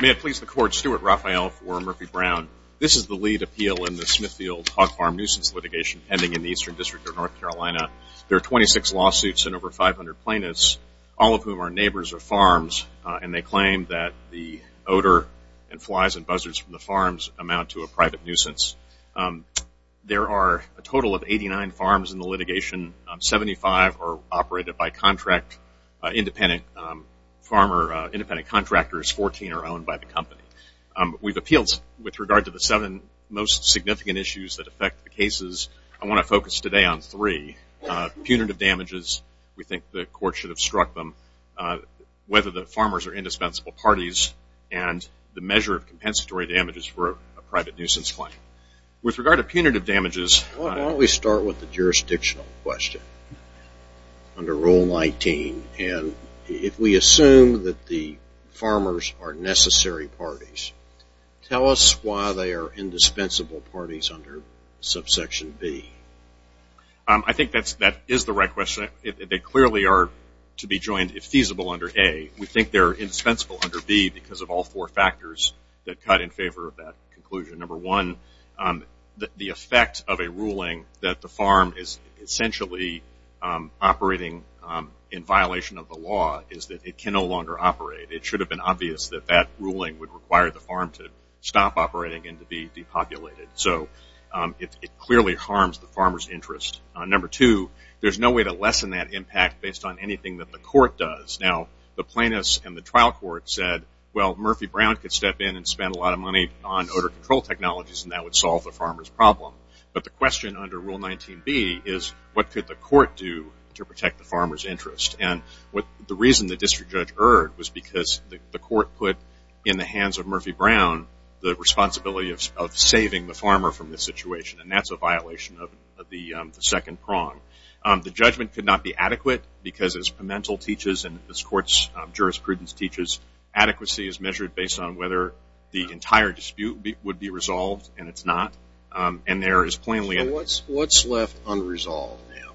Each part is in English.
May it please the Court, Stuart Raphael v. Murphy-Brown. This is the lead appeal in the Smithfield hog farm nuisance litigation pending in the Eastern District of North Carolina. There are 26 lawsuits and over 500 plaintiffs, all of whom are neighbors of farms, and they and flies and buzzards from the farms amount to a private nuisance. There are a total of 89 farms in the litigation. Seventy-five are operated by contract, independent farmer, independent contractors, 14 are owned by the company. We've appealed with regard to the seven most significant issues that affect the cases. I want to focus today on three. Punitive damages, we think the Court should have struck them. Whether the farmers are a measure of compensatory damages for a private nuisance claim. With regard to punitive damages Why don't we start with the jurisdictional question under Rule 19, and if we assume that the farmers are necessary parties, tell us why they are indispensable parties under subsection B. I think that is the right question. They clearly are to be joined if feasible under A. We think they are indispensable under B because of all four factors that cut in favor of that conclusion. Number one, the effect of a ruling that the farm is essentially operating in violation of the law is that it can no longer operate. It should have been obvious that that ruling would require the farm to stop operating and to be depopulated. It clearly harms the farmer's interest. Number two, there is no way to lessen that impact based on anything that the court does. The plaintiffs and the trial court said, Murphy Brown could step in and spend a lot of money on odor control technologies and that would solve the farmer's problem. The question under Rule 19B is what could the court do to protect the farmer's interest? The reason the district judge erred was because the court put in the hands of Murphy Brown the responsibility of saving the farmer from this situation. That is a this court's jurisprudence teaches. Adequacy is measured based on whether the entire dispute would be resolved and it is not. What is left unresolved now?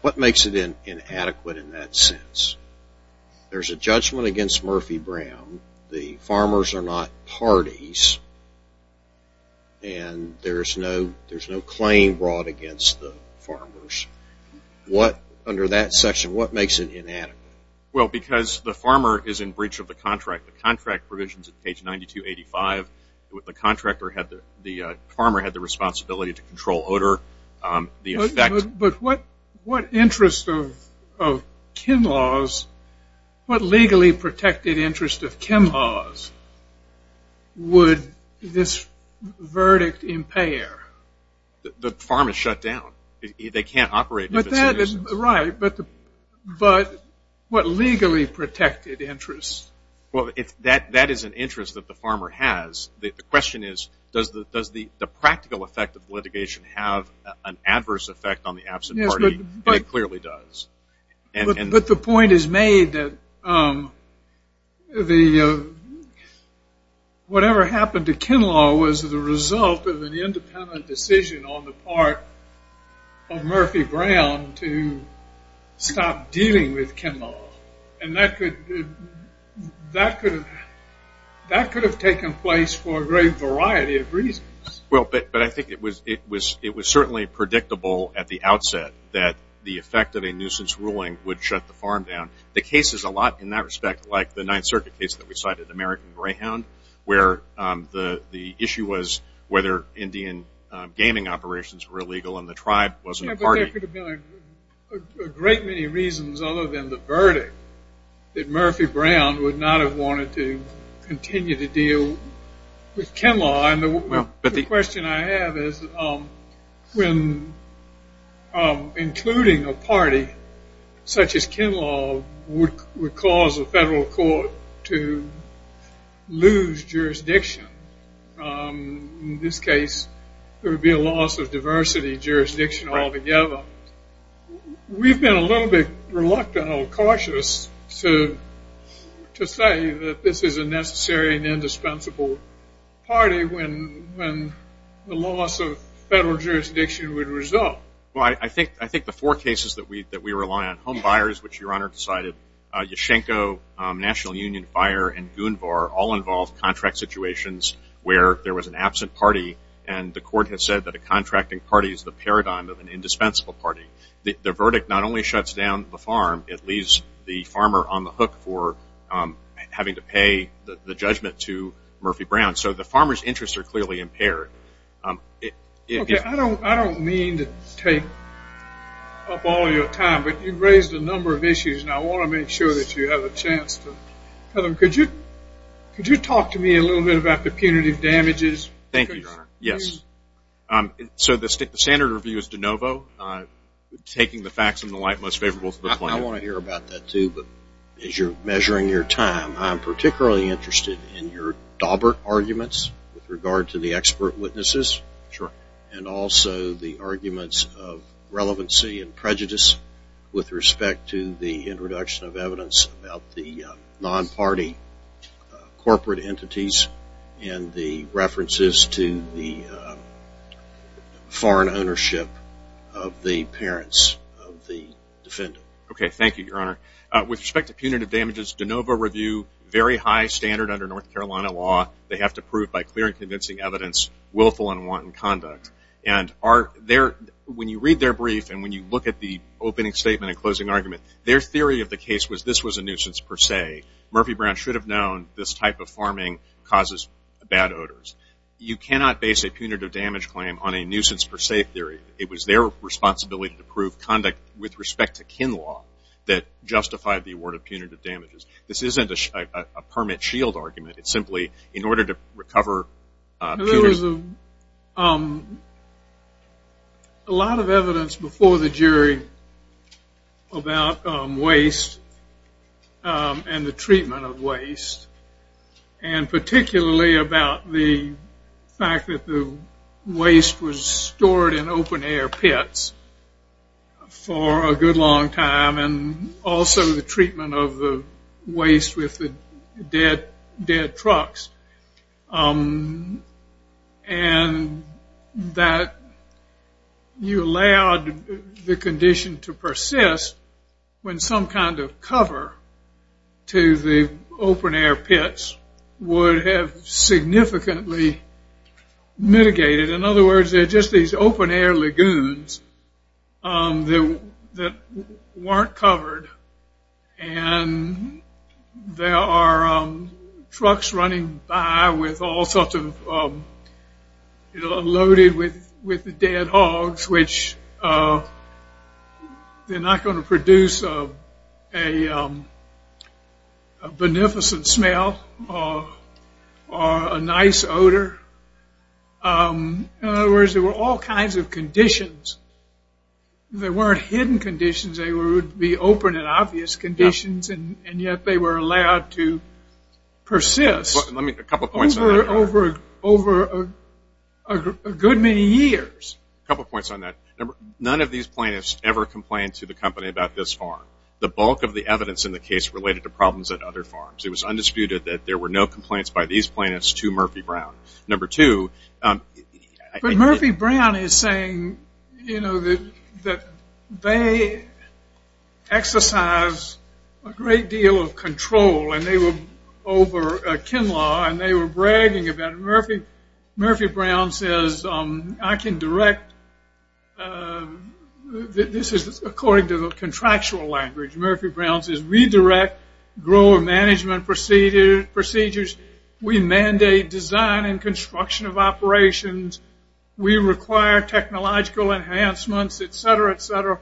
What makes it inadequate in that sense? There is a judgment against Murphy Brown. The farmers are not parties and there makes it inadequate? Because the farmer is in breach of the contract. The contract provisions at page 9285, the farmer had the responsibility to control odor. What legally protected interest of Ken laws would this verdict impair? The farm is shut down. They can't operate. Right, but what legally protected interest? That is an interest that the farmer has. The question is does the practical effect of litigation have an adverse effect on the absent party? It clearly does. But the point is made that whatever happened to Ken law was the result of an independent decision on the part of Murphy Brown to stop dealing with Ken law. And that could have taken place for a great variety of reasons. But I think it was certainly predictable at the outset that the effect of a nuisance ruling would shut the farm down. The case is a lot in that respect like the 9th circuit case that we cited, American Greyhound, where the issue was whether Indian gaming operations were illegal and the tribe wasn't a party. There could have been a great many reasons other than the verdict that Murphy Brown would not have wanted to continue to deal with Ken law. The question I have is when including a party such as Ken law would cause a federal court to lose jurisdiction. In this case, there would be a loss of diversity jurisdiction altogether. We've been a little bit reluctant or cautious to say that this is a necessary and indispensable party when the loss of federal jurisdiction would result. I think the four cases that we rely on, Homebuyers, which your Honor cited, Yashchenko, National Union Buyer, and Goonvar, all involve contract situations where there was an absent party and the court has said that a contracting party is the paradigm of an indispensable party. The verdict not only shuts down the farm, it leaves the farmer on the hook for having to pay the judgment to Murphy Brown. So the farmer's interests are clearly impaired. I don't mean to take up all your time, but you've raised a number of issues and I want to make sure that you have a chance. Could you talk to me a little bit about the punitive damages? Thank you, Your Honor. So the standard review is de novo, taking the facts in the light most favorable to the plaintiff. And I want to hear about that too, but as you're measuring your time, I'm particularly interested in your Dawbert arguments with regard to the expert witnesses and also the arguments of relevancy and prejudice with respect to the introduction of evidence about the non-party corporate entities and the references to the foreign ownership of the parents of the defendant. Okay. Thank you, Your Honor. With respect to punitive damages, de novo review, very high standard under North Carolina law. They have to prove by clear and convincing evidence willful and wanton conduct. And when you read their brief and when you look at the opening statement and closing argument, their theory of the case was this was a nuisance per se. Murphy Brown should have known this type of farming causes bad odors. You cannot base a punitive damage claim on a nuisance per se theory. It was their responsibility to prove conduct with respect to kin law that justified the award of punitive damages. This isn't a permit shield argument. It's simply in order to recover punitive damages. A lot of evidence before the jury about waste and the treatment of waste, and particularly about the fact that the waste was stored in open air pits for a good long time and also the treatment of the waste with the dead trucks. And that you allowed the condition to persist when some kind of cover to the open air pits would have significantly mitigated. In other words, they're just these open air lagoons that weren't covered. And there are trucks running by with all sorts of, you know, loaded with dead hogs, which they're not going to produce a beneficent smell or a nice odor. In other words, there were all kinds of conditions. They weren't hidden conditions. They would be open and obvious conditions, and yet they were allowed to persist over a good many years. A couple of points on that. None of these plaintiffs ever complained to the company about this farm. The bulk of the evidence in the case related to problems at other farms. It was undisputed that there were no complaints by these plaintiffs to Murphy Brown. Number two, I think that they exercised a great deal of control over kin law, and they were bragging about it. Murphy Brown says, I can direct, this is according to the contractual language, Murphy Brown says, we direct grower management procedures. We mandate design and construction of operations. We require technological enhancements, et cetera, et cetera.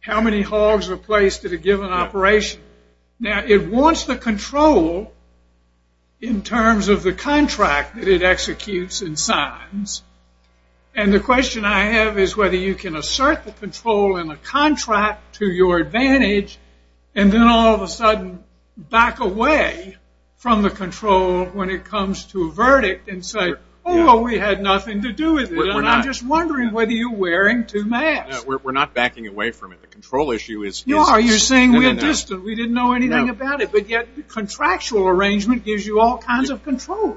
How many hogs are placed at a given operation? Now, it wants the control in terms of the contract that it executes and signs, and the question I have is whether you can assert the control in the contract to your advantage, and then all of a sudden back away from the control when it comes to a verdict and say, oh, we had nothing to do with it, and I'm just wondering whether you're wearing too much. We're not backing away from it. The control issue is No, you're saying we're distant. We didn't know anything about it, but yet the contractual arrangement gives you all kinds of control.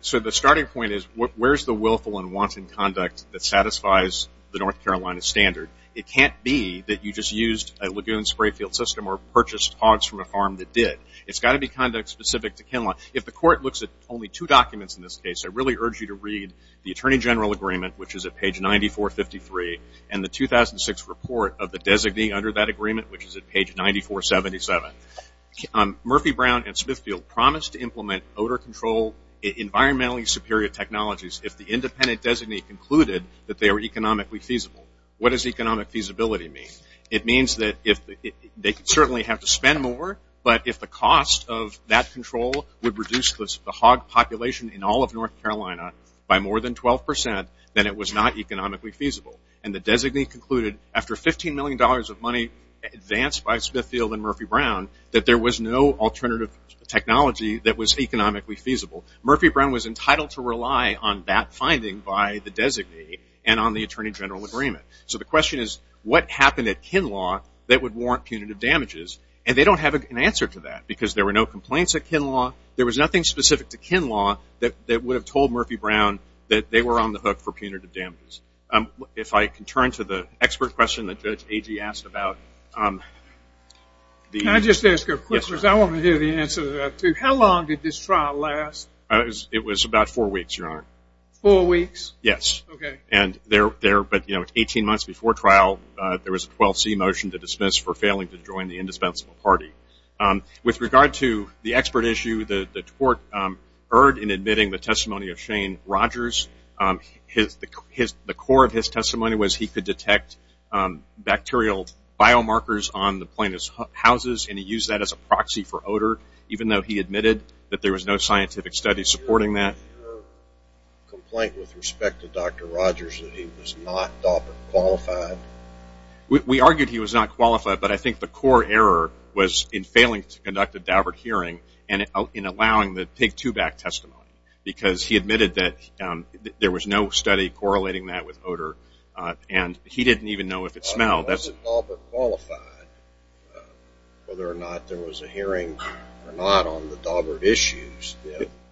So the starting point is, where's the willful and wanton conduct that satisfies the North Carolina standard? It can't be that you just used a lagoon spray field system or purchased hogs from a farm that did. It's got to be conduct specific to kin law. If the court looks at only two documents in this case, I really urge you to read the Attorney General Agreement, which is at page 9453, and the 2006 report of the designee under that agreement, which is at page 9477. Murphy, Brown, and Smithfield promised to implement odor control, environmentally superior technologies, if the independent designee concluded that they were economically feasible. What does economic feasibility mean? It means that they could certainly have to spend more, but if the cost of that control would reduce the hog population in all of North Carolina by more than 12%, then it was not economically feasible. And the designee concluded, after $15 million of money advanced by Smithfield and Murphy, Brown, that there was no alternative technology that was economically feasible. Murphy, Brown, was entitled to rely on that finding by the designee and on the Attorney General Agreement. So the question is, what happened at kin law that would warrant punitive damages? And they don't have an answer to that, because there were no complaints at kin law. There was nothing specific to kin law that would have told Murphy, Brown that they were on the hook for punitive damages. If I can turn to the expert question that Judge Agee asked about... Can I just ask a question? I want to hear the answer to that, too. How long did this trial last? It was about four weeks, Your Honor. Four weeks? Yes. Okay. And there, but 18 months before trial, there was a 12C motion to dismiss for failing to join the indispensable party. With regard to the expert issue, the court erred in admitting the testimony of Shane Rogers. The core of his testimony was he could detect bacterial biomarkers on the plaintiff's houses, and he used that as a proxy for odor, even though he admitted that there was no scientific study supporting that. Is your complaint with respect to Dr. Rogers that he was not DAWPert qualified? We argued he was not qualified, but I think the core error was in failing to conduct a DAWPert hearing and in allowing the pig two-back testimony, because he admitted that there was no study correlating that with odor, and he didn't even know if it smelled. Was DAWPert qualified, whether or not there was a hearing or not on the DAWPert issues?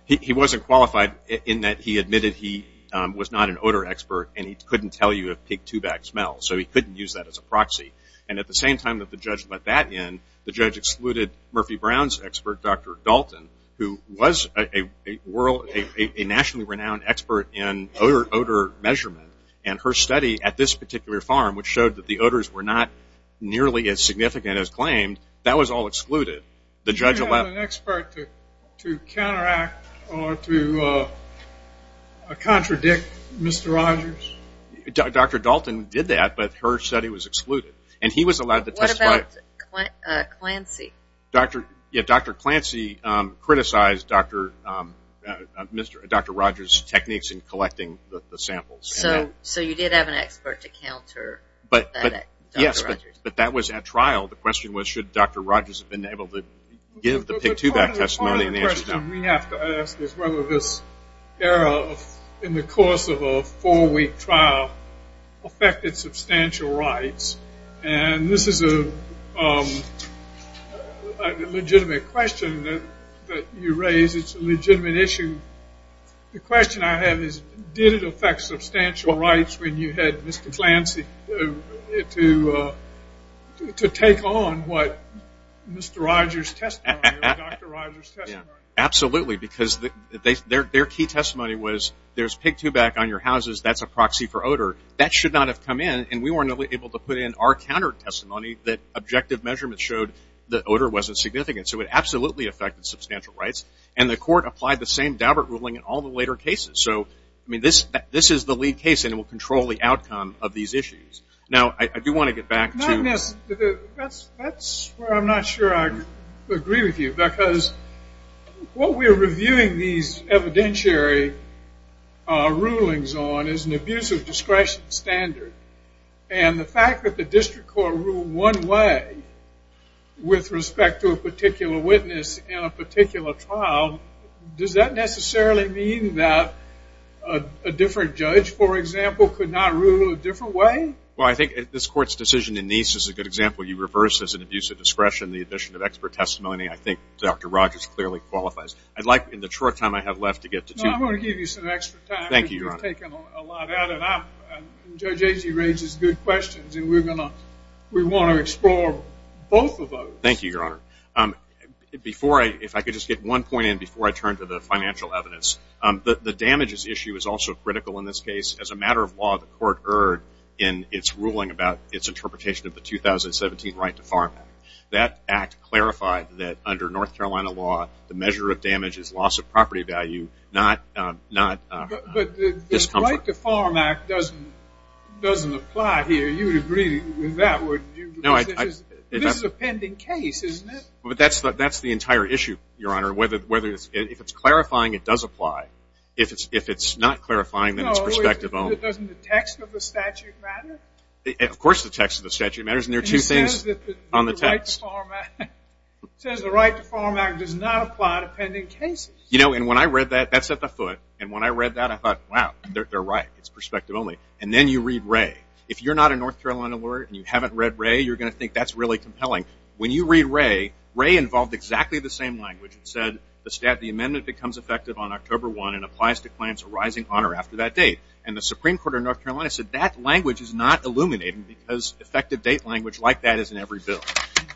He wasn't qualified in that he admitted he was not an odor expert, and he couldn't tell you if pig two-back smells, so he couldn't use that as a proxy. And at the same time that the judge let that in, the judge excluded Murphy Brown's expert, Dr. Dalton, who was a nationally renowned expert in odor measurement, and her study at this particular farm, which showed that the odors were not nearly as significant as claimed, that was all excluded. The judge allowed... You didn't have an expert to counteract or to contradict Mr. Rodgers? Dr. Dalton did that, but her study was excluded. And he was allowed to testify... What about Clancy? Dr. Clancy criticized Dr. Rodgers' techniques in collecting the samples. So you did have an expert to counter that Dr. Rodgers? Yes, but that was at trial. The question was should Dr. Rodgers have been able to give the pig whether this error in the course of a four-week trial affected substantial rights? And this is a legitimate question that you raise. It's a legitimate issue. The question I have is did it affect substantial rights when you had Mr. Clancy to take on what Mr. Rodgers' testimony or Dr. Rodgers' testimony? Absolutely, because their key testimony was there's pig two-back on your houses. That's a proxy for odor. That should not have come in, and we weren't able to put in our counter testimony that objective measurements showed that odor wasn't significant. So it absolutely affected substantial rights, and the court applied the same Daubert ruling in all the later cases. So this is the lead case, and it will control the outcome of these issues. Now, I do want to get back to... That's where I'm not sure I agree with you, because what we're reviewing these evidentiary rulings on is an abuse of discretion standard, and the fact that the district court ruled one way with respect to a particular witness in a particular trial, does that necessarily mean that a different judge, for example, could not rule a different way? Well, I think this court's decision in these is a good example. You reverse as an abuse of discretion the addition of expert testimony. I think Dr. Rodgers clearly qualifies. I'd like, in the short time I have left, to get to two... No, I'm going to give you some extra time. Thank you, Your Honor. You've taken a lot out of that. Judge Agee raises good questions, and we want to explore both of those. Thank you, Your Honor. Before I... If I could just get one point in before I turn to the financial evidence. The damages issue is also heard in its ruling about its interpretation of the 2017 Right to Farm Act. That act clarified that under North Carolina law, the measure of damage is loss of property value, not discomfort. But the Right to Farm Act doesn't apply here. You would agree with that, would you? No, I... This is a pending case, isn't it? That's the entire issue, Your Honor. If it's clarifying, it does apply. If it's not clarifying, then it's perspective only. Doesn't the text of the statute matter? Of course the text of the statute matters, and there are two things on the text. It says that the Right to Farm Act does not apply to pending cases. When I read that, that set the foot. When I read that, I thought, wow, they're right. It's perspective only. Then you read Wray. If you're not a North Carolina lawyer, and you haven't read Wray, you're going to think that's really compelling. When you read Wray, Wray involved exactly the same language. It said, the amendment becomes effective on October 1 and applies to claims arising on or after that date. And the Supreme Court of North Carolina said, that language is not illuminating because effective date language like that is in every bill.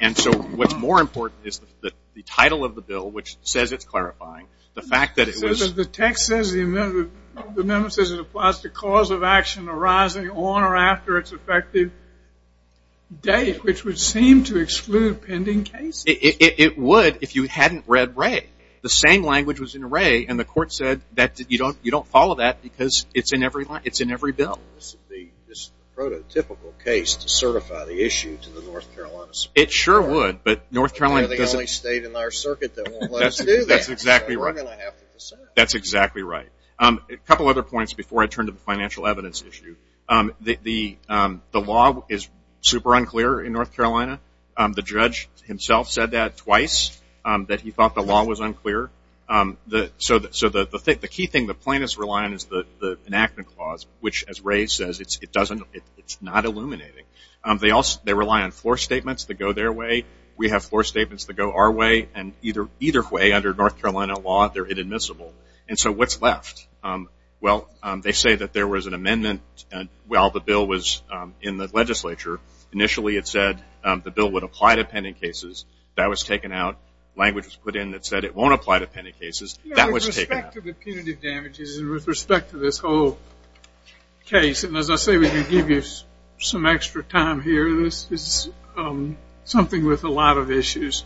And so what's more important is that the title of the bill, which says it's clarifying, the fact that it was... The text says the amendment says it applies to cause of action arising on or after its effective date, which would seem to exclude pending cases. It would if you hadn't read Wray. The same language was in Wray, and the court said that you don't follow that because it's in every bill. This is the prototypical case to certify the issue to the North Carolina Supreme Court. It sure would, but North Carolina doesn't... They're the only state in our circuit that won't let us do that. That's exactly right. That's exactly right. A couple other points before I turn to the financial evidence issue. The law is super unclear in North Carolina. The judge himself said that twice, that he thought the law was unclear. So the key thing the plaintiffs rely on is the enactment clause, which as Wray says, it's not illuminating. They rely on floor statements that go their way. We have floor statements that go our way, and either way under North Carolina law, they're inadmissible. So what's left? They say that there was an amendment while the bill was in the legislature. Initially it said the bill would apply to pending cases. That was taken out. Language was put in that said it won't apply to pending cases. That was taken out. With respect to the punitive damages and with respect to this whole case, and as I say, we can give you some extra time here. This is something with a lot of issues.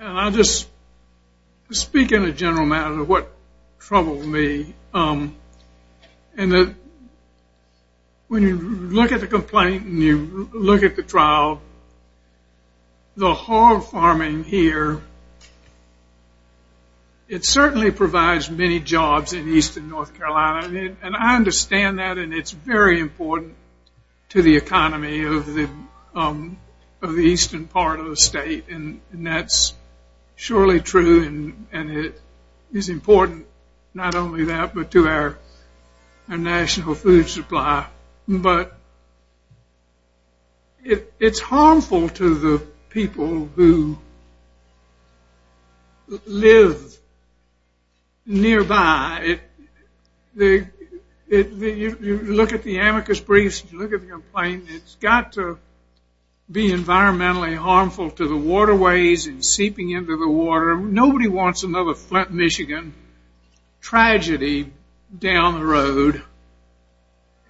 I'll just speak in a general matter of what troubled me. When you look at the complaint and you look at the trial, the hog farming here, it certainly provides many jobs in eastern North Carolina, and I understand that, and it's very important to the economy of the eastern part of the state, and that's surely true, and it is important not only that, but to our national food supply, but it's harmful to the people who live nearby. You look at the amicus briefs, you look at the complaint, it's got to be environmentally harmful to the waterways and seeping into the water. Nobody wants another Flint, Michigan tragedy down the road,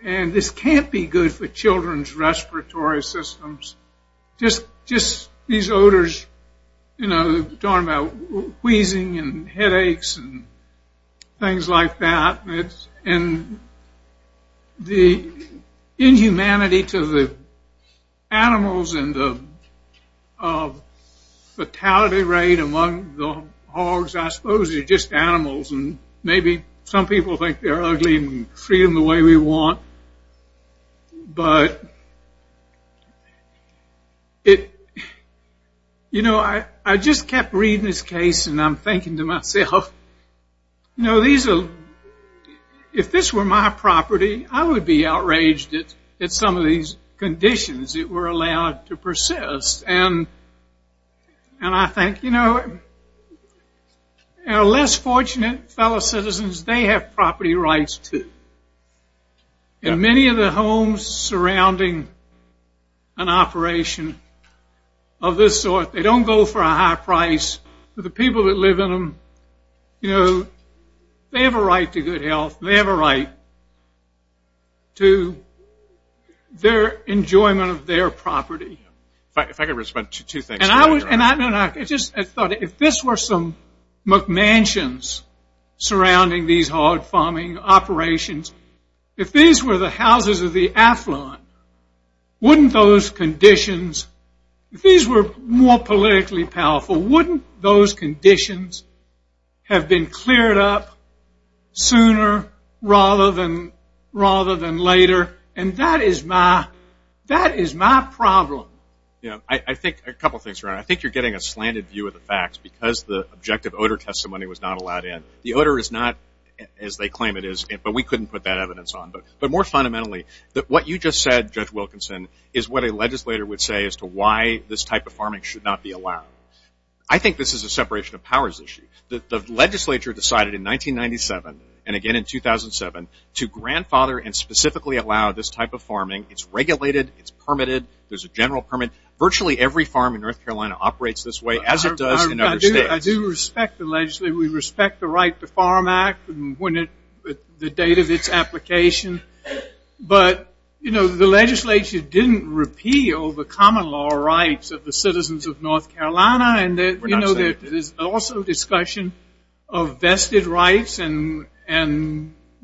and this can't be good for children's respiratory systems. Just these odors, you know, we're talking about wheezing and headaches and things like that, and the inhumanity to the animals and the fatality rate among the hogs, I suppose they're just animals, and maybe some people think they're ugly and treat them the way we want, but it, you know, I just kept reading this case and I'm thinking to myself, you know, these are, if this were my property, I would be outraged at some of these conditions that were allowed to persist, and I think, you know, our less fortunate fellow citizens, they have property rights, too, and many of the homes surrounding an operation of this sort, they don't go for a high price, but the people that live in them, you know, they have a right to good health, they have a right to their enjoyment of their property. If I could respond to two things, and I was, and I just thought if this were some McMansions surrounding these hog farming operations, if these were the houses of the affluent, wouldn't those conditions, if these were more politically powerful, wouldn't those conditions have been cleared up sooner rather than later, and that is my problem. Yeah, I think a couple of things, Ron. I think you're getting a slanted view of the facts because the objective odor testimony was not allowed in. The odor is not, as they claim it is, but we couldn't put that evidence on, but more fundamentally, what you just said, Judge Wilkinson, is what a legislator would say as to why this type of farming should not be allowed. I think this is a separation of powers issue. The legislature decided in 1997, and again in 2007, to grandfather and specifically allow this type of farming. It's regulated, it's permitted, there's a general permit. Virtually every farm in North Carolina operates this way, as it does in other states. I do respect the legislature. We respect the Right to Farm Act, the date of its application, but the legislature didn't repeal the common law rights of the citizens of North Carolina, and there's also discussion of vested rights and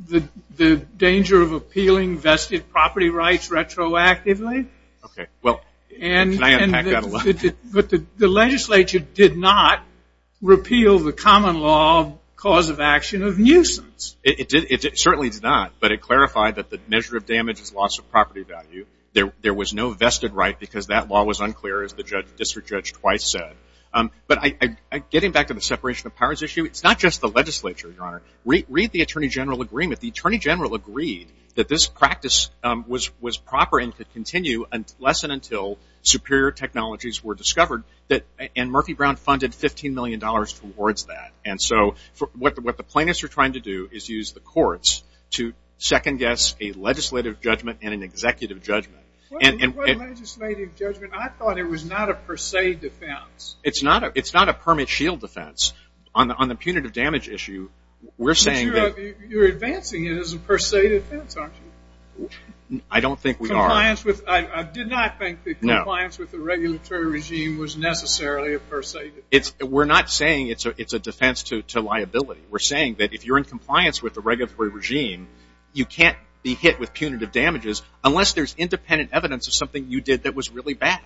the danger of appealing vested property rights retroactively. Okay, well, can I unpack that a little? The legislature did not repeal the common law cause of action of nuisance. It certainly did not, but it clarified that the measure of damage is loss of property value. There was no vested right because that law was unclear, as the district judge twice said. But getting back to the separation of powers issue, it's not just the legislature, Your Honor. Read the Attorney General Agreement. The Attorney General agreed that this practice was proper and could continue less than until superior technologies were discovered, and Murphy Brown funded $15 million towards that. What the plaintiffs are trying to do is use the courts to second guess a legislative judgment and an executive judgment. What legislative judgment? I thought it was not a per se defense. It's not a permit shield defense. On the punitive damage issue, we're saying that you're advancing it as a per se defense, aren't you? I don't think we are. I did not think the compliance with the regulatory regime was necessarily a per se defense. We're not saying it's a defense to liability. We're saying that if you're in compliance with the regulatory regime, you can't be hit with punitive damages unless there's independent evidence of something you did that was really bad,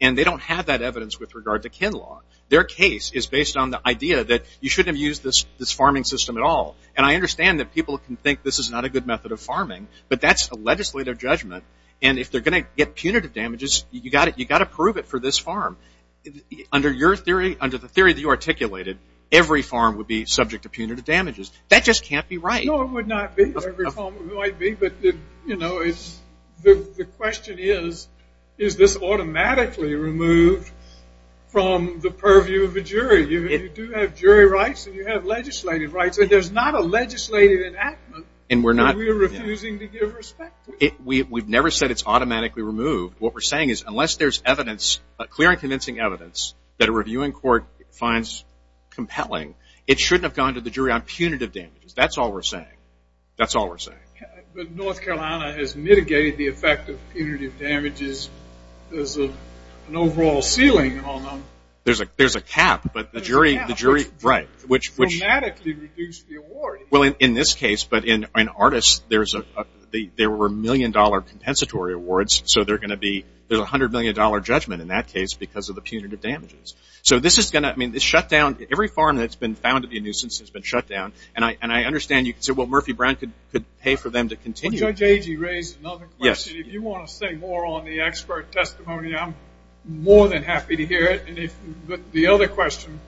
and they don't have that evidence with regard to Ken law. Their case is based on the idea that you shouldn't have used this farming system at all, and I understand that people can think this is not a good method of farming, but that's a legislative judgment, and if they're going to get punitive damages, you've got to prove it for this farm. Under your theory, under the theory that you articulated, every farm would be subject to punitive damages. That just can't be right. No, it would not be. Every farm might be, but the question is, is this automatically removed from the purview of a jury? You do have jury rights, and you have legislative rights, and there's not a legislative enactment that we're refusing to give respect to. We've never said it's automatically removed. What we're saying is unless there's evidence, clear and convincing evidence, that a reviewing court finds compelling, it shouldn't have gone to the jury on punitive damages. That's all we're saying. That's all we're saying. But North Carolina has mitigated the effect of punitive damages. There's an overall ceiling on them. There's a cap, but the jury, right, which dramatically reduced the award. Well, in this case, but in Artists, there were million dollar compensatory awards, so there's a hundred million dollar judgment in that case because of the punitive damages. So this is going to, I mean, this shutdown, every farm that's been found to be a nuisance has been shut down, and I understand you can say, well, Murphy Brown could pay for them to continue. Well, Judge Agee raised another question. If you want to say more on the expert testimony, I'm more than happy to hear it, but the other question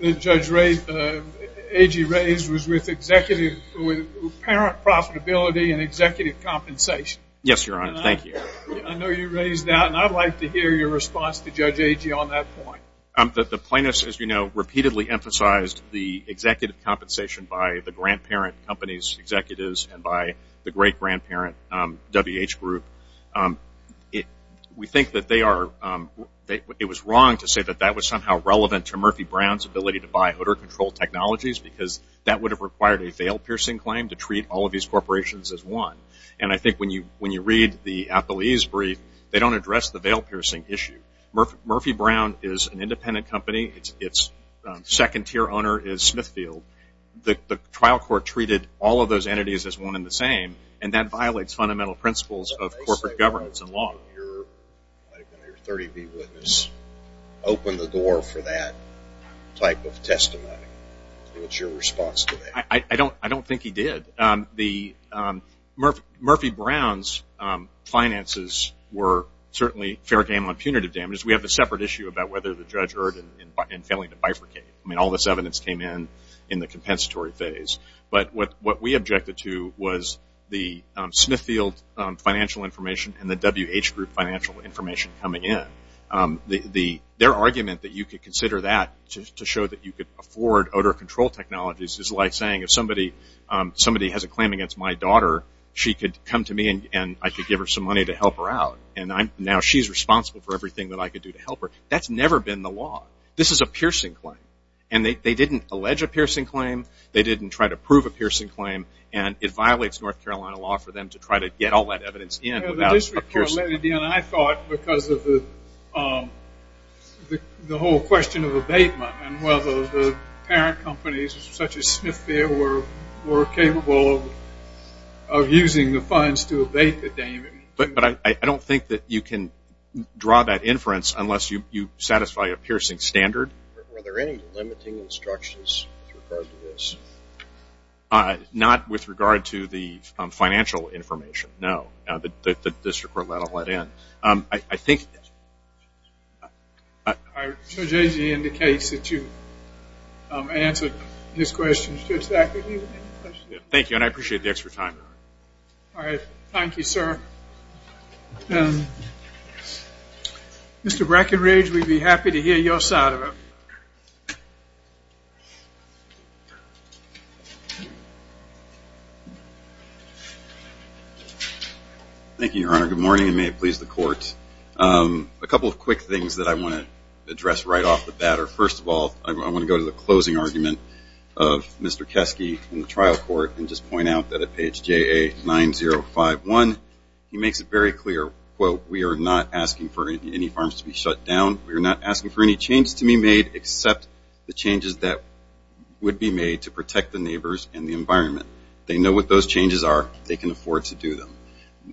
that Judge Agee raised was with parent profitability and executive compensation. Yes, Your Honor. Thank you. I know you raised that, and I'd like to hear your response to Judge Agee on that point. The plaintiffs, as you know, repeatedly emphasized the executive group. We think that they are, it was wrong to say that that was somehow relevant to Murphy Brown's ability to buy odor control technologies because that would have required a veil-piercing claim to treat all of these corporations as one. And I think when you read the appellee's brief, they don't address the veil-piercing issue. Murphy Brown is an independent company. Its second-tier owner is Smithfield. The trial court treated all of those entities as one and the same, and that violates fundamental principles of corporate governance and law. Your 30-beat witness opened the door for that type of testimony. What's your response to that? I don't think he did. Murphy Brown's finances were certainly fair game on punitive damages. We have a separate issue about whether the judge erred in failing to bifurcate. I mean, all this evidence came in in the compensatory phase. But what we objected to was the Smithfield financial information and the WH group financial information coming in. Their argument that you could consider that to show that you could afford odor control technologies is like saying if somebody has a claim against my daughter, she could come to me and I could give her some money to help her out. And now she's responsible for everything that I could do to help her. That's never been the law. This is a piercing claim. And they didn't allege a piercing claim. They didn't try to prove a piercing claim. And it violates North Carolina law for them to try to get all that evidence in about a piercing claim. I thought because of the whole question of abatement and whether the parent companies such as Smithfield were capable of using the funds to abate the damages. But I don't think that you can draw that inference unless you satisfy a piercing standard. Were there any limiting instructions with regard to this? Not with regard to the financial information, no. The district court let it in. I think Judge Agee indicates that you answered his question. Thank you. And I appreciate the extra time. Thank you, sir. Mr. Brackenridge, we'd be happy to hear your side of it. Thank you, Your Honor. Good morning and may it please the court. A couple of quick things that I want to address right off the bat. First of all, I want to go to the closing argument of Mr. Keski in the trial court and just point out that at page JA9051, he makes it very clear, quote, we are not asking for any farms to be shut down. We are not asking for any changes to be made except the changes that would be made to protect the neighbors and the environment. They know what those changes are. They can afford to do them.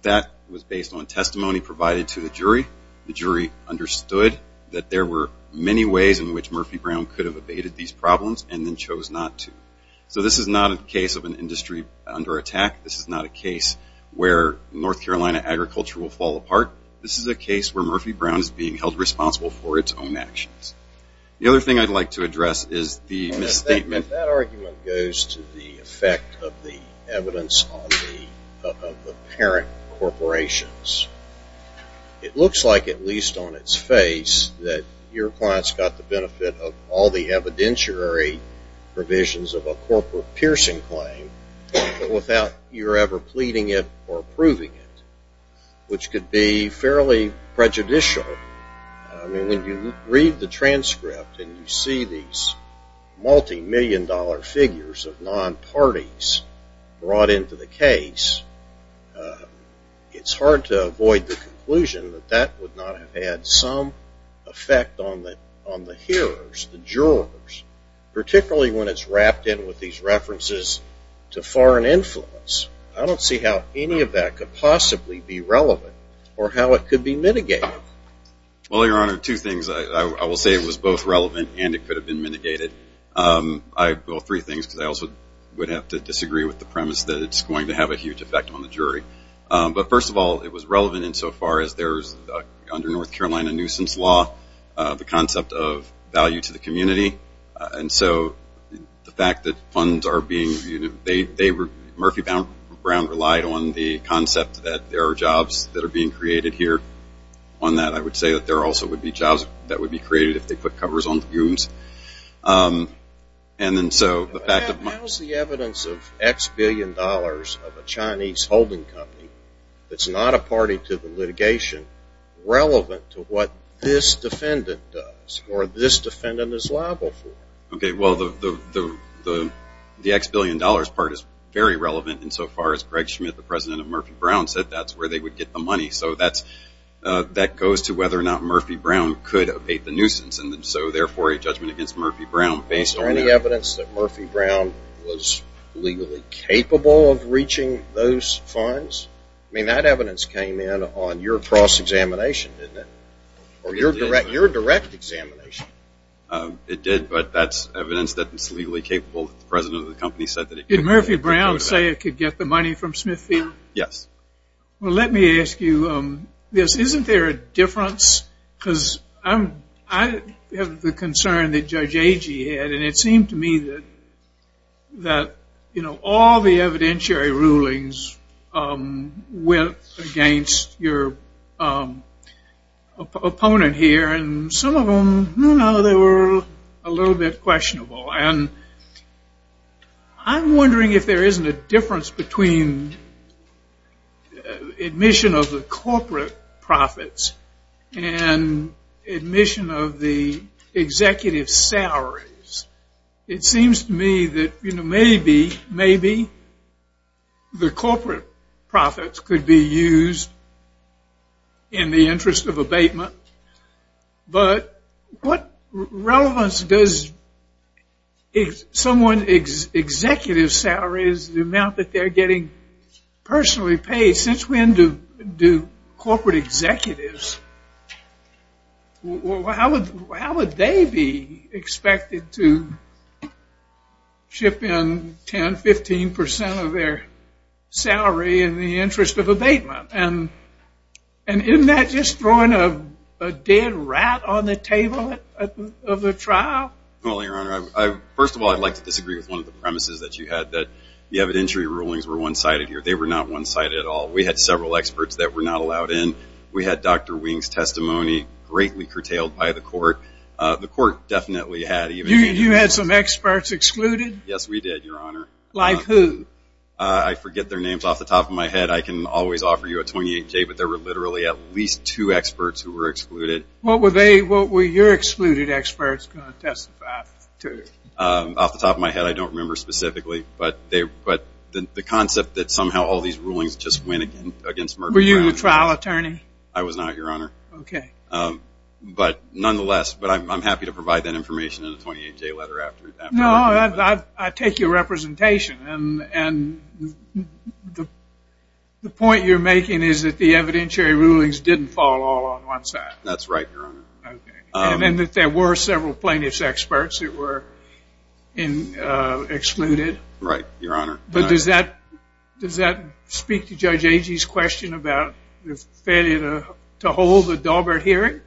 That was based on testimony provided to the jury. The jury understood that there were many ways in which Murphy Brown could have abated these problems and then chose not to. So this is not a case of an industry under attack. This is not a case where North Carolina agriculture will fall apart. This is a case where Murphy Brown is being held responsible for its own actions. The other thing I'd like to address is the misstatement. That argument goes to the effect of the evidence of the parent corporations. It looks like at least on its face that your clients got the benefit of all the evidentiary provisions of a corporate piercing claim, but without your ever pleading it or approving it, which could be fairly prejudicial. I mean, when you read the transcript and you see these multi-million dollar figures of non-parties brought into the case, it's hard to avoid the conclusion that that would not have had some effect on the hearers, the jurors, particularly when it's wrapped in with these references to foreign influence. I don't see how any of that could possibly be relevant or how it could be mitigated. Well, Your Honor, two things. I will say it was both relevant and it could have been mitigated. I have three things because I also would have to disagree with the premise that it's going to have a huge effect on the jury. But first of all, it was relevant insofar as there's under North Carolina nuisance law, the concept of value to the community. And so the fact that funds are being, they were, Murphy Brown relied on the concept that there are jobs that are being created here. On that, I would say that there also would be jobs that would be created if they put covers on the goons. And then so the fact of- of a Chinese holding company that's not a party to the litigation, relevant to what this defendant does or this defendant is liable for. Okay. Well, the, the, the, the X billion dollars part is very relevant insofar as Greg Schmidt, the president of Murphy Brown said that's where they would get the money. So that's, that goes to whether or not Murphy Brown could abate the nuisance. And so therefore a judgment against Murphy Brown based on- Murphy Brown was legally capable of reaching those funds? I mean, that evidence came in on your cross-examination, didn't it? Or your direct, your direct examination? It did, but that's evidence that it's legally capable. The president of the company said that it- Did Murphy Brown say it could get the money from Smithfield? Yes. Well, let me ask you this. Isn't there a difference? Because I'm, I have the concern that Judge that, you know, all the evidentiary rulings went against your opponent here and some of them, you know, they were a little bit questionable. And I'm wondering if there isn't a difference between admission of the corporate profits and admission of the executive salaries. It may be, maybe the corporate profits could be used in the interest of abatement, but what relevance does someone's executive salaries, the amount that they're getting personally paid, since when do corporate executives, how would they be expected to ship in 10, 15% of their salary in the interest of abatement? And isn't that just throwing a dead rat on the table of the trial? Well, Your Honor, first of all, I'd like to disagree with one of the premises that you had, that the evidentiary rulings were one-sided here. They were not one-sided at all. We had several experts that were not allowed in. We had Dr. Wing's testimony, greatly curtailed by the court. The court definitely had- You had some experts excluded? Yes, we did, Your Honor. Like who? I forget their names. Off the top of my head, I can always offer you a 28K, but there were literally at least two experts who were excluded. What were they, what were your excluded experts going to testify to? Off the top of my head, I don't remember specifically, but the concept that somehow all these rulings just went against- Were you the trial attorney? I was not, Your Honor, but nonetheless, I'm happy to provide that information in a 28-J letter after that. No, I take your representation, and the point you're making is that the evidentiary rulings didn't fall all on one side. That's right, Your Honor. And that there were several plaintiff's experts that were excluded? Right, Your Honor. But does that speak to Judge Agee's question about the failure to hold a Daubert hearing?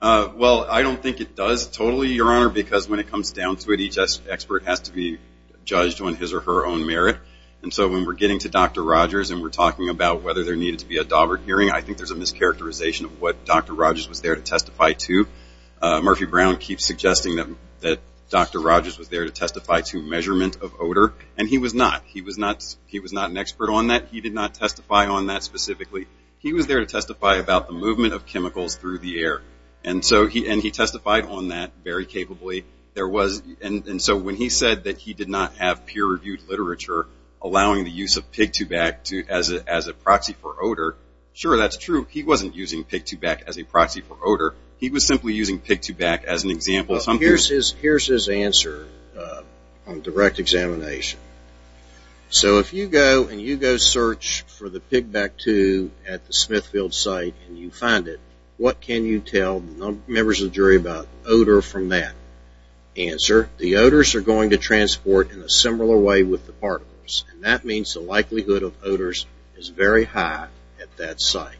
Well, I don't think it does totally, Your Honor, because when it comes down to it, each expert has to be judged on his or her own merit, and so when we're getting to Dr. Rogers and we're talking about whether there needed to be a Daubert hearing, I think there's a close characterization of what Dr. Rogers was there to testify to. Murphy Brown keeps suggesting that Dr. Rogers was there to testify to measurement of odor, and he was not. He was not an expert on that. He did not testify on that specifically. He was there to testify about the movement of chemicals through the air, and he testified on that very capably, and so when he said that he did not have peer-reviewed literature allowing the use of Pig 2-Bac as a proxy for odor, sure, that's true. He wasn't using Pig 2-Bac as a proxy for odor. He was simply using Pig 2-Bac as an example of something. Here's his answer on direct examination. So if you go and you go search for the Pig 2-Bac at the Smithfield site and you find it, what can you tell members of the jury about odor from that answer? The odors are going to transport in a similar way with the particles, and that means the likelihood of odors is very high at that site.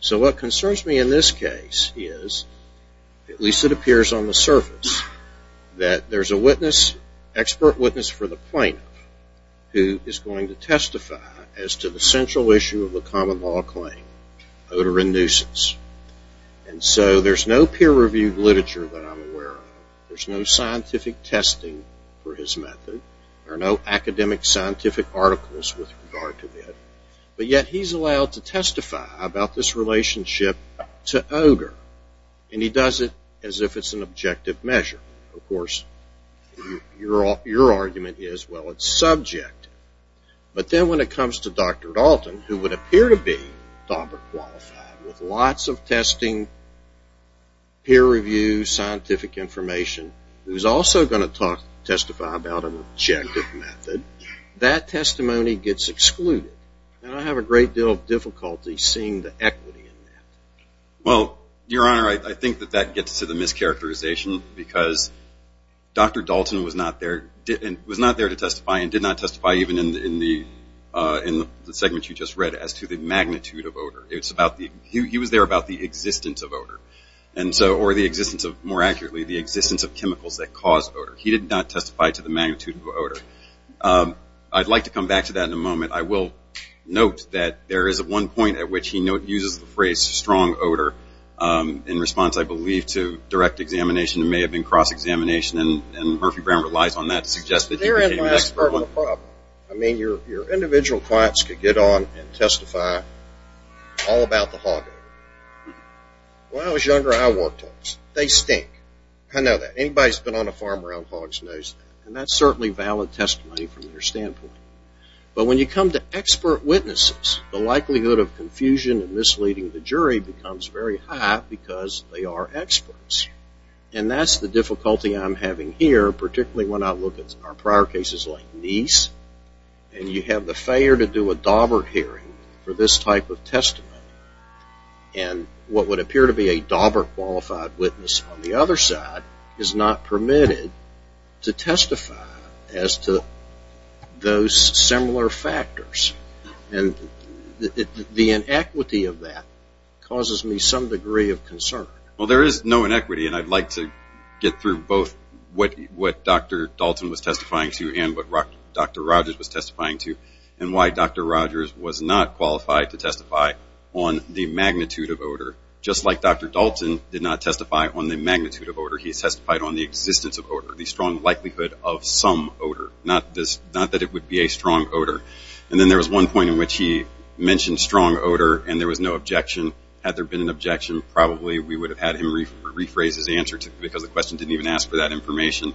So what concerns me in this case is, at least it appears on the surface, that there's a witness, expert witness for the plaintiff, who is going to testify as to the central issue of the common law claim, odor and nuisance. And so there's no peer-reviewed literature that I'm aware of. There's no scientific testing for his method. There are no academic scientific articles with regard to it. But yet he's allowed to testify about this relationship to odor, and he does it as if it's an objective measure. Of course, your argument is, well, it's subjective. But then when it comes to Dr. Dalton, who would appear to be DAWBR qualified with lots of testing, peer-reviewed scientific information, who's also going to testify about an objective method, that testimony gets excluded, and I have a great deal of difficulty seeing the equity in that. Well, Your Honor, I think that that gets to the mischaracterization, because Dr. Dalton was not there to testify and did not testify even in the segment you just read as to the magnitude of odor. He was there about the existence of odor, and so, or the existence of, more accurately, the existence of chemicals that cause odor. He did not testify to the magnitude of odor. I'd like to come back to that in a moment. I will note that there is one point at which he uses the phrase, strong odor, in response, I believe, to direct examination, it may have been cross-examination, and Murphy Brown relies on that to suggest that he became an expert on the problem. I mean, your individual clients could get on and testify all about the hog odor. When I was younger, I worked on this. They stink. I know that. Anybody that's been on a farm around hogs knows that, and that's certainly valid testimony from their standpoint. But when you come to expert witnesses, the likelihood of confusion and misleading the jury becomes very high because they are experts, and that's the difficulty I'm having here, particularly when I look at our prior cases like Neese, and you have the failure to do a Daubert hearing for this type of testimony, and what would appear to be a Daubert qualified witness on the other side is not permitted to testify as to those similar factors. The inequity of that causes me some degree of concern. There is no inequity, and I'd like to get through both what Dr. Dalton was testifying to and what Dr. Rogers was testifying to, and why Dr. Rogers was not qualified to testify on the magnitude of odor. Just like Dr. Dalton did not testify on the magnitude of odor, he testified on the existence of odor, the strong likelihood of some odor, not that it would be a strong odor. Then there was one point in which he mentioned strong odor, and there was no objection. Had there been an objection, probably we would have had him rephrase his answer because the question didn't even ask for that information,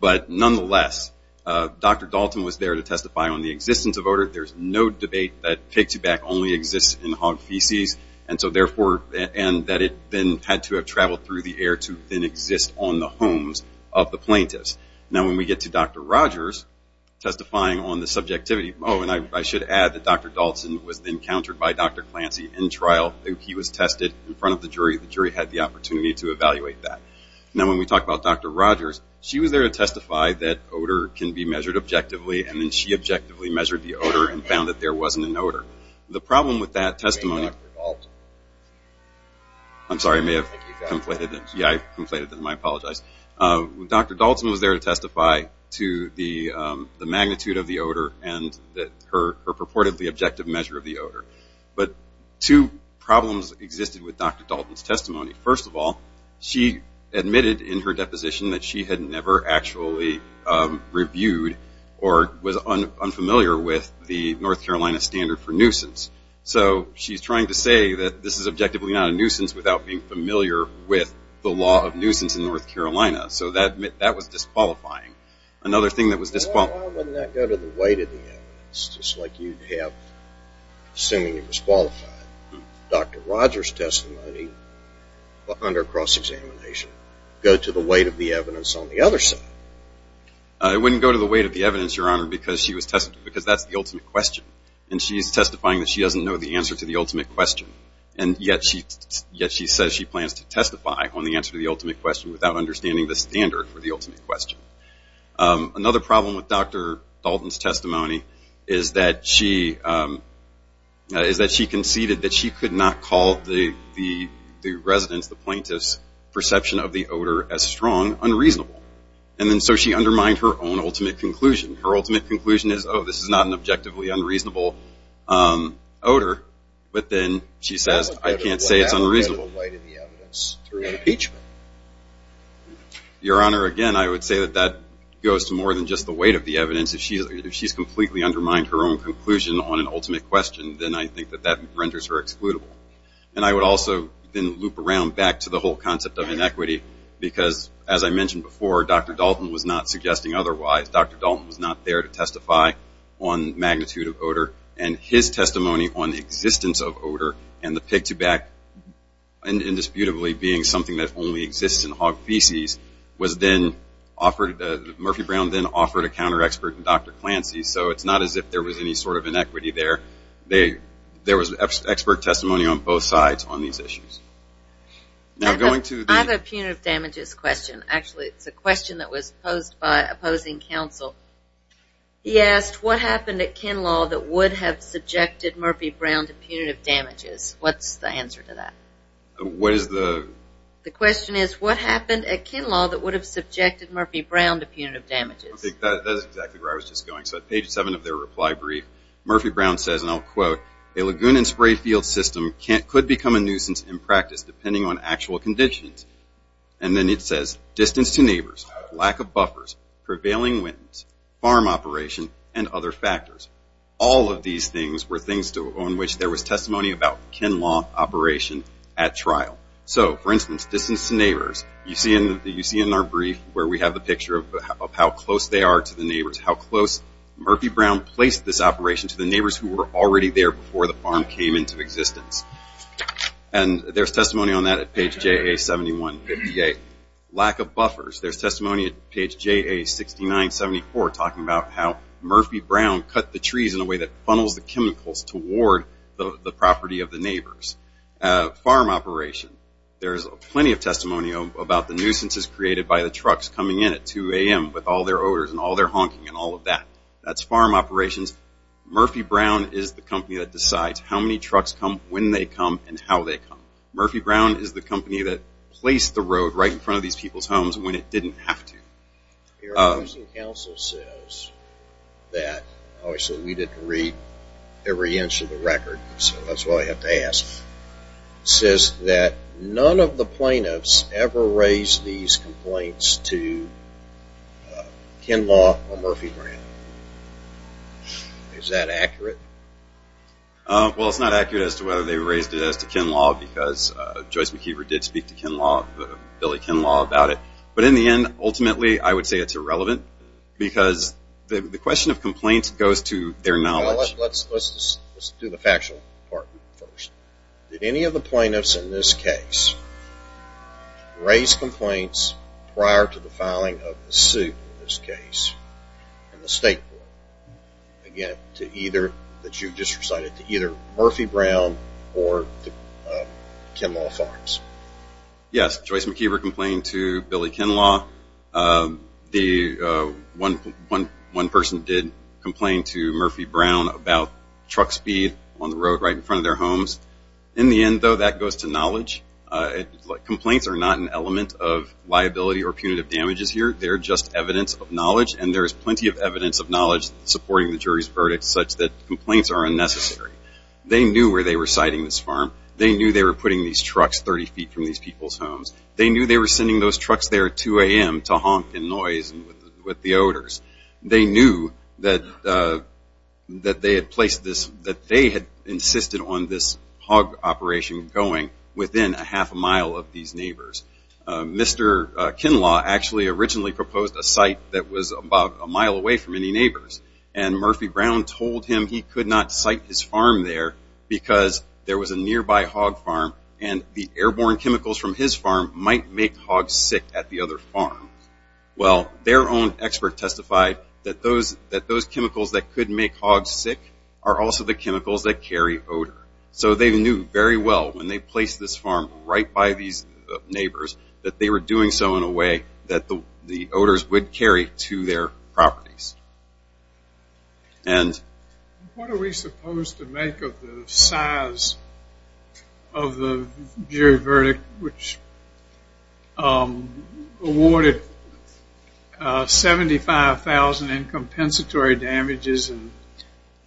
but nonetheless, Dr. Dalton was there to testify on the existence of odor. There's no debate that pig's back only exists in hog feces, and that it then had to have traveled through the air to then exist on the homes of the plaintiffs. Now, when we get to Dr. Rogers testifying on the subjectivity, oh, and I should add that Dr. Dalton was then countered by Dr. Clancy in trial. He was tested in front of the jury. The jury had the opportunity to evaluate that. Now, when we talk about Dr. Rogers, she was there to testify that odor can be measured objectively, and then she objectively measured the odor and found that there wasn't an odor. The problem with that testimony- I'm sorry, I may have conflated it. Yeah, I conflated it, and I apologize. Dr. Dalton was there to testify to the magnitude of the odor and that her purportedly objective measure of the odor, but two problems existed with Dr. Dalton's testimony. First of all, she admitted in her deposition that she had never actually reviewed or was unfamiliar with the North Carolina standard for nuisance. She's trying to say that this is objectively not a nuisance without being familiar with the law of nuisance in North Carolina, so that was disqualifying. Another thing that was disqualifying- Well, why wouldn't that go to the weight of the evidence, just like you'd have, assuming you were disqualified, Dr. Rogers' testimony under cross-examination go to the weight of the evidence on the other side? It wouldn't go to the weight of the evidence, Your Honor, because that's the ultimate question, and she's testifying that she doesn't know the answer to the ultimate question, and yet she says she plans to testify on the answer to the ultimate question without understanding the standard for the ultimate question. Another problem with Dr. Dalton's testimony is that she conceded that she could not call the residents, the plaintiffs' perception of the odor as strong, unreasonable, and so she undermined her own ultimate conclusion. Her ultimate conclusion is, oh, this is not an objectively unreasonable odor, but then she says, I can't say it's unreasonable. Why would that go to the weight of the evidence through an impeachment? Your Honor, again, I would say that that goes to more than just the weight of the evidence. If she's completely undermined her own conclusion on an ultimate question, then I think that that renders her excludable. And I would also then loop around back to the whole concept of inequity, because as I mentioned before, Dr. Dalton was not suggesting otherwise. Dr. Dalton was not there to testify on magnitude of odor, and his testimony on the existence of odor and the pig to back indisputably being something that only exists in hog feces was then offered, Murphy Brown then offered a counter-expert in Dr. Clancy, so it's not as if there was any sort of inequity there. There was expert testimony on both sides on these issues. Now, going to the... I have a punitive damages question. Actually, it's a question that was posed by opposing counsel. He asked, what happened at Kinlaw that would have subjected Murphy Brown to punitive damages? What's the answer to that? What is the... The question is, what happened at Kinlaw that would have subjected Murphy Brown to punitive damages? I think that is exactly where I was just going. So at page seven of their reply brief, Murphy Brown says, and I'll quote, a lagoon and spray field system could become a nuisance in practice depending on actual conditions. And then it says, distance to neighbors, lack of buffers, prevailing winds, farm operation, and other factors. All of these things were things on which there was testimony about Kinlaw operation at trial. So for instance, distance to neighbors, you see in our brief where we have the picture of how close they are to the neighbors, how close Murphy Brown placed this operation to the neighbors who were already there before the farm came into existence. And there's testimony on that at page JA7158. Lack of buffers. There's testimony at page JA6974 talking about how Murphy Brown cut the trees in a way that funnels the chemicals toward the property of the neighbors. Farm operation. There's plenty of testimony about the nuisances created by the trucks coming in at 2 a.m. with all their odors and all their honking and all of that. That's farm operations. Murphy Brown is the company that decides how many trucks come, when they come, and how they come. Murphy Brown is the company that placed the road right in front of these people's homes when it didn't have to. Your opposing counsel says that, obviously we didn't read every inch of the record, so that's why I have to ask, says that none of the plaintiffs ever raised these complaints to Ken Law or Murphy Brown. Is that accurate? Well, it's not accurate as to whether they raised it as to Ken Law, because Joyce McKeever did speak to Ken Law, Billy Ken Law, about it. But in the end, ultimately, I would say it's irrelevant, because the question of complaints goes to their knowledge. Let's do the factual part first. Did any of the plaintiffs in this case raise complaints prior to the filing of the suit in this case in the state court, that you just recited, to either Murphy Brown or Ken Law Farms? Yes. Joyce McKeever complained to Billy Ken Law. One person did complain to Murphy Brown about truck speed on the road right in front of their homes. In the end, though, that goes to knowledge. Complaints are not an element of liability or punitive damages here. They're just evidence of knowledge, and there's plenty of evidence of knowledge supporting the jury's verdict such that complaints are unnecessary. They knew where they were siting this farm. They knew they were putting these trucks 30 feet from these people's homes. They knew they were sending those trucks there at 2 a.m. to honk and noise with the odors. They knew that they had insisted on this hog operation going within a half a mile of these neighbors. Mr. Ken Law actually originally proposed a site that was about a mile away from any neighbors, and Murphy Brown told him he could not site his farm there because there was a nearby hog farm, and the airborne chemicals from his farm might make hogs sick at the other farm. Well, their own expert testified that those chemicals that could make hogs sick are also the chemicals that carry odor. So they knew very well when they placed this farm right by these neighbors that they were doing so in a way that the odors would carry to their properties. What are we supposed to make of the size of the jury verdict which awarded $75,000 in compensatory damages and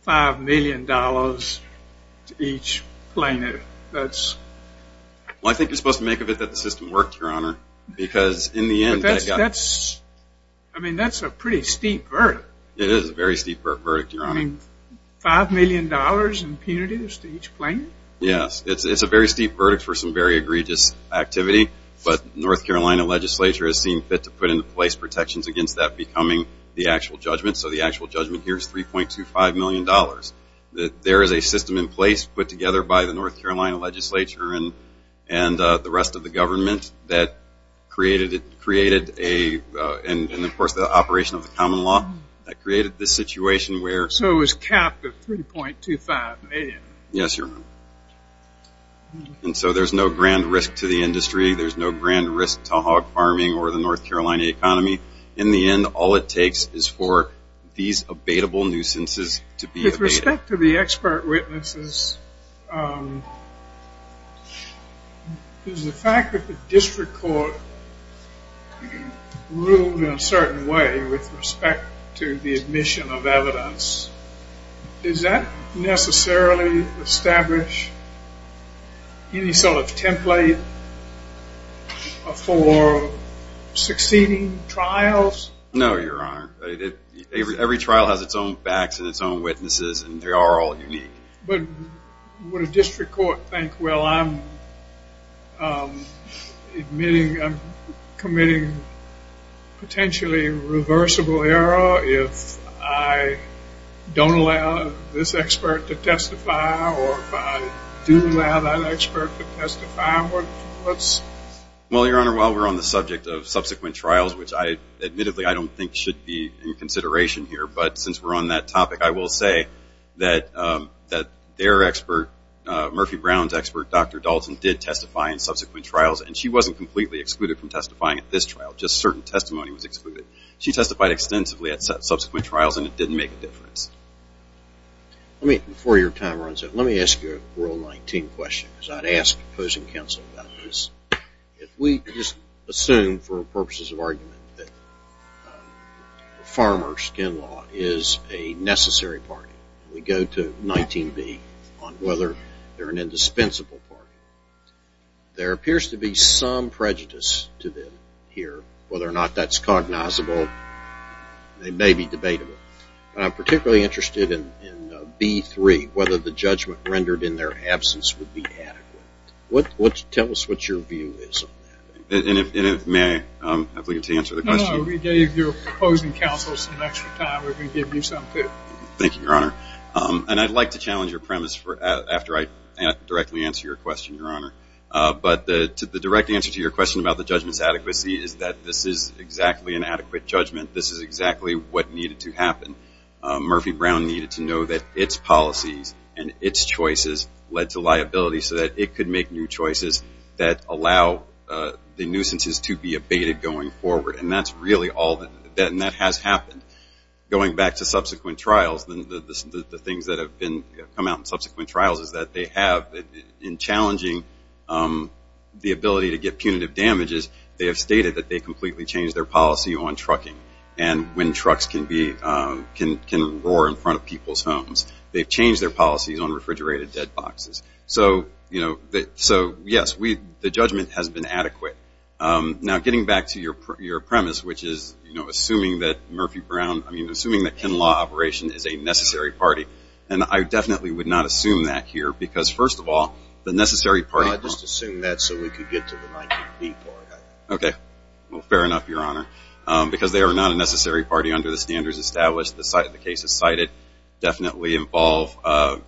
$5 million to each plaintiff? I think you're supposed to make of it that the system worked, Your Honor, because in the end. I mean, that's a pretty steep verdict. It is a very steep verdict, Your Honor. I mean, $5 million in punitives to each plaintiff? Yes. It's a very steep verdict for some very egregious activity, but North Carolina legislature has seen fit to put into place protections against that becoming the actual judgment, so the actual judgment here is $3.25 million. There is a system in place put together by the North Carolina legislature and the rest of the government that created, and of course, the operation of the common law that created this situation where. So it was capped at $3.25 million? Yes, Your Honor. And so there's no grand risk to the industry. There's no grand risk to hog farming or the North Carolina economy. In the end, all it takes is for these abatable nuisances to be abated. With respect to the expert witnesses, is the fact that the district court ruled in a certain way with respect to the admission of evidence, does that necessarily establish any sort of template for succeeding trials? No, Your Honor. Every trial has its own facts and its own witnesses, and they are all unique. But would a district court think, well, I'm admitting, I'm committing potentially reversible error if I don't allow this expert to testify, or if I do allow that expert to testify, what's? Well, Your Honor, while we're on the subject of subsequent trials, which I, admittedly, I don't think should be in consideration here, but since we're on that topic, I will say that their expert, Murphy Brown's expert, Dr. Dalton, did testify in subsequent trials, and she wasn't completely excluded from testifying at this trial. Just certain testimony was excluded. She testified extensively at subsequent trials, and it didn't make a difference. Let me, before your time runs out, let me ask you a Rule 19 question, because I'd ask opposing counsel about this. If we just assume, for purposes of argument, that the farmer's skin law is a necessary party, we go to 19b on whether they're an indispensable party. There appears to be some prejudice to them here, whether or not that's cognizable. They may be debatable, but I'm particularly interested in B3, whether the judgment rendered in their absence would be adequate. Tell us what your view is on that. And if, may I have the opportunity to answer the question? No, no, we gave your opposing counsel some extra time. We're going to give you some, too. Thank you, Your Honor. And I'd like to challenge your premise after I directly answer your question, Your Honor. But the direct answer to your question about the judgment's adequacy is that this is exactly an adequate judgment. This is exactly what needed to happen. Murphy Brown needed to know that its policies and its choices led to liability so that it could make new choices that allow the nuisances to be abated going forward. And that's really all that has happened. Going back to subsequent trials, the things that have come out in subsequent trials is that they have, in challenging the ability to get punitive damages, they have stated that they completely changed their policy on trucking. And when trucks can roar in front of people's homes, they've changed their policies on refrigerated dead boxes. So, you know, so, yes, the judgment has been adequate. Now, getting back to your premise, which is, you know, assuming that Murphy Brown, I mean, assuming that Ken Law Operation is a necessary party, and I definitely would not assume that here because, first of all, the necessary party No, I just assumed that so we could get to the 19B part of it. Okay. Well, fair enough, Your Honor, because they are not a necessary party under the standards established. The cases cited definitely involve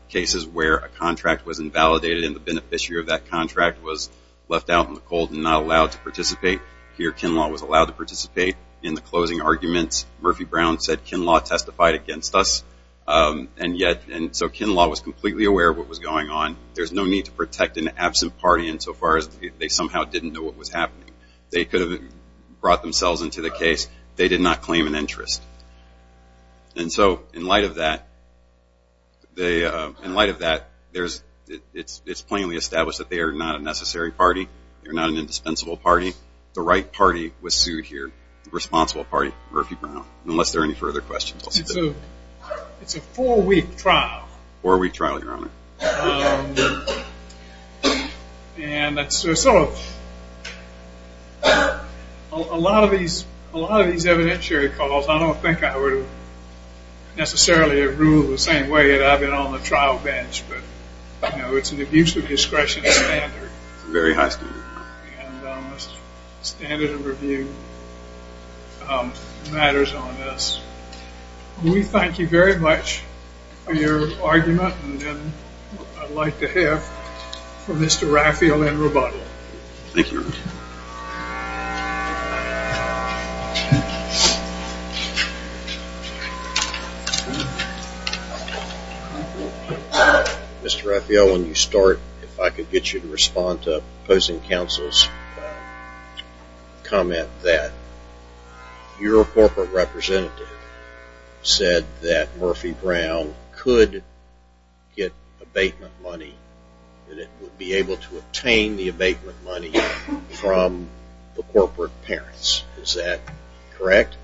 cases where a contract was invalidated and the beneficiary of that contract was left out in the cold and not allowed to participate. Here Ken Law was allowed to participate in the closing arguments. Murphy Brown said Ken Law testified against us, and yet, and so Ken Law was completely aware of what was going on. There's no need to protect an absent party insofar as they somehow didn't know what was happening. They could have brought themselves into the case. They did not claim an interest. And so, in light of that, it's plainly established that they are not a necessary party. They are not an indispensable party. The right party was sued here, the responsible party, Murphy Brown, unless there are any further questions. It's a four-week trial. Four-week trial, Your Honor. And that's sort of, a lot of these evidentiary calls, I don't think I would have necessarily ruled the same way had I been on the trial bench, but, you know, it's an abuse of discretion standard. It's a very high standard. And standard of review matters on this. We thank you very much for your argument, and then I'd like to hear from Mr. Raphael in rebuttal. Thank you, Your Honor. Mr. Raphael, when you start, if I could get you to respond to opposing counsel's comment that your corporate representative said that Murphy Brown could get abatement money, that it would be able to obtain the abatement money from the corporate parents, is that correct?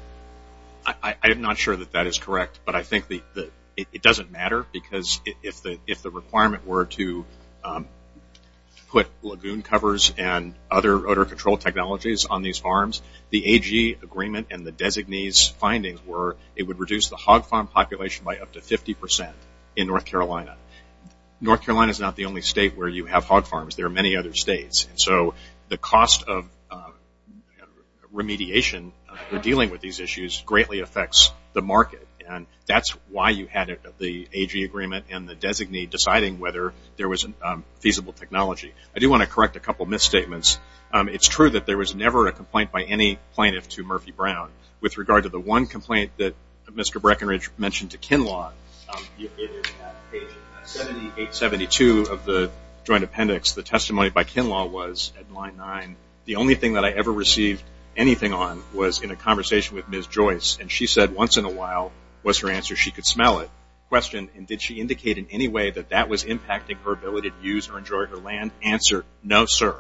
I am not sure that that is correct, but I think it doesn't matter because if the requirement were to put lagoon covers and other odor control technologies on these farms, the AG agreement and the designee's findings were it would reduce the hog farm population by up to 50% in North Carolina. North Carolina is not the only state where you have hog farms. There are many other states. And so the cost of remediation for dealing with these issues greatly affects the market. That's why you had the AG agreement and the designee deciding whether there was a feasible technology. I do want to correct a couple of misstatements. It's true that there was never a complaint by any plaintiff to Murphy Brown. With regard to the one complaint that Mr. Breckenridge mentioned to Kinlaw, page 7872 of the joint appendix, the testimony by Kinlaw was at line 9, the only thing that I ever received anything on was in a conversation with Ms. Joyce, and she said once in a while was her answer she could smell it, questioned did she indicate in any way that that was impacting her ability to use or enjoy her land, answer, no, sir.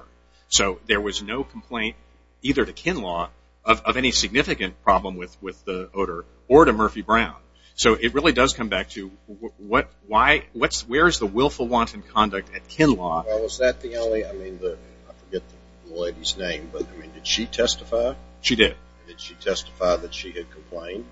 So there was no complaint either to Kinlaw of any significant problem with the odor or to Murphy Brown. So it really does come back to where is the willful wanton conduct at Kinlaw? Was that the only, I forget the lady's name, but did she testify? She did. Did she testify that she had complained?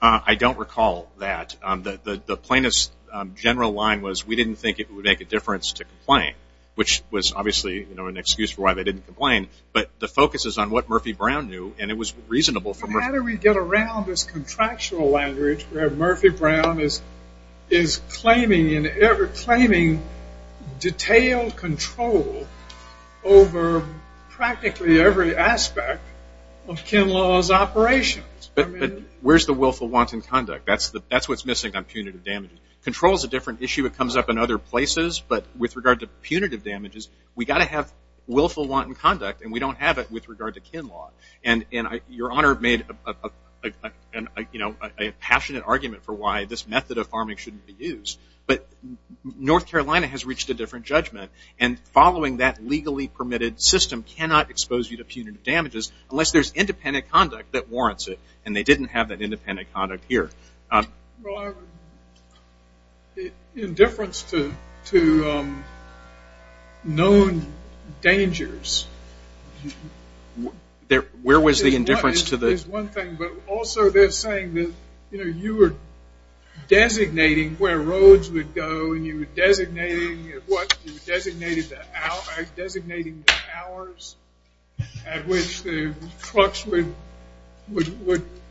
I don't recall that. The plaintiff's general line was we didn't think it would make a difference to complain, which was obviously an excuse for why they didn't complain, but the focus is on what Murphy Brown knew, and it was reasonable for Murphy Brown. How do we get around this contractual language where Murphy Brown is claiming and ever claiming detailed control over practically every aspect of Kinlaw's operations? Where's the willful wanton conduct? That's what's missing on punitive damages. Control is a different issue. It comes up in other places, but with regard to punitive damages, we've got to have willful wanton conduct, and we don't have it with regard to Kinlaw. Your Honor made a passionate argument for why this method of farming shouldn't be used, but North Carolina has reached a different judgment, and following that legally permitted system cannot expose you to punitive damages unless there's independent conduct that warrants it, and they didn't have that independent conduct here. Indifference to known dangers. Where was the indifference to the... Also, they're saying that you were designating where roads would go, and you were designating the hours at which the trucks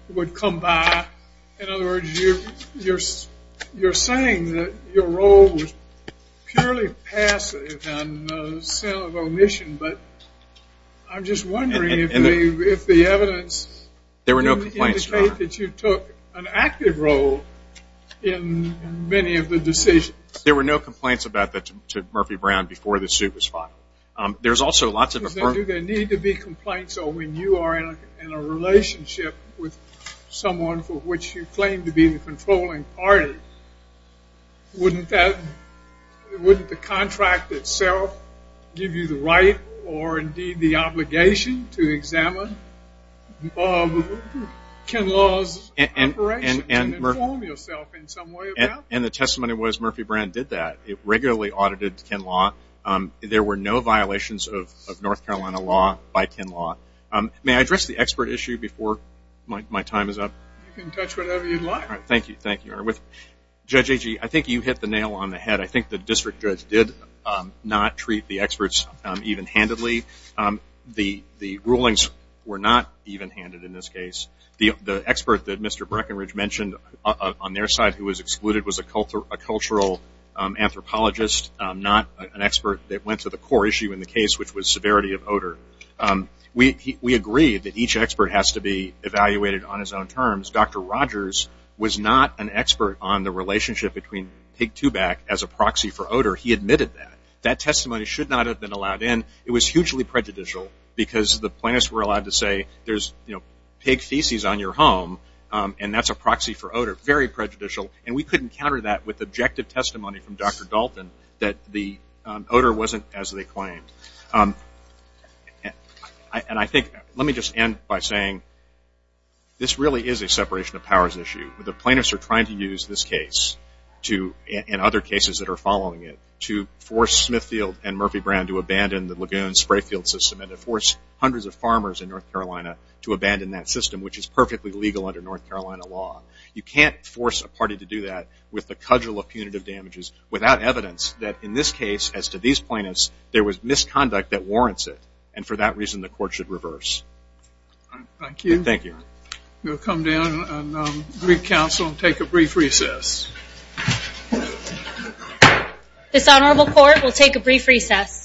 would come by. In other words, you're saying that your role was purely passive and a sin of omission, but I'm just wondering if the evidence... There were no complaints, Your Honor. ...didn't indicate that you took an active role in many of the decisions. There were no complaints about that to Murphy Brown before the suit was filed. There's also lots of... Do they need to be complaints, or when you are in a relationship with someone for which you claim to be the controlling party, wouldn't the contract itself give you the right to or indeed the obligation to examine Ken Law's operations and inform yourself in some way about that? The testimony was Murphy Brown did that. It regularly audited Ken Law. There were no violations of North Carolina law by Ken Law. May I address the expert issue before my time is up? You can touch whatever you'd like. Thank you, Your Honor. Judge Agee, I think you hit the nail on the head. I think the district judge did not treat the experts even-handedly. The rulings were not even-handed in this case. The expert that Mr. Breckenridge mentioned on their side who was excluded was a cultural anthropologist, not an expert that went to the core issue in the case, which was severity of odor. We agree that each expert has to be evaluated on his own terms. Dr. Rogers was not an expert on the relationship between pig two-back as a proxy for odor. He admitted that. That testimony should not have been allowed in. It was hugely prejudicial because the plaintiffs were allowed to say there's pig feces on your home and that's a proxy for odor. Very prejudicial. We couldn't counter that with objective testimony from Dr. Dalton that the odor wasn't as they claimed. Let me just end by saying this really is a separation of powers issue. The plaintiffs are trying to use this case and other cases that are following it to force Smithfield and Murphy Brand to abandon the Lagoon spray field system and to force hundreds of farmers in North Carolina to abandon that system, which is perfectly legal under North Carolina law. You can't force a party to do that with the cudgel of punitive damages without evidence that in this case, as to these plaintiffs, there was misconduct that warrants it. And for that reason, the court should reverse. Thank you. Thank you. We'll come down and greet counsel and take a brief recess. This Honorable Court will take a brief recess.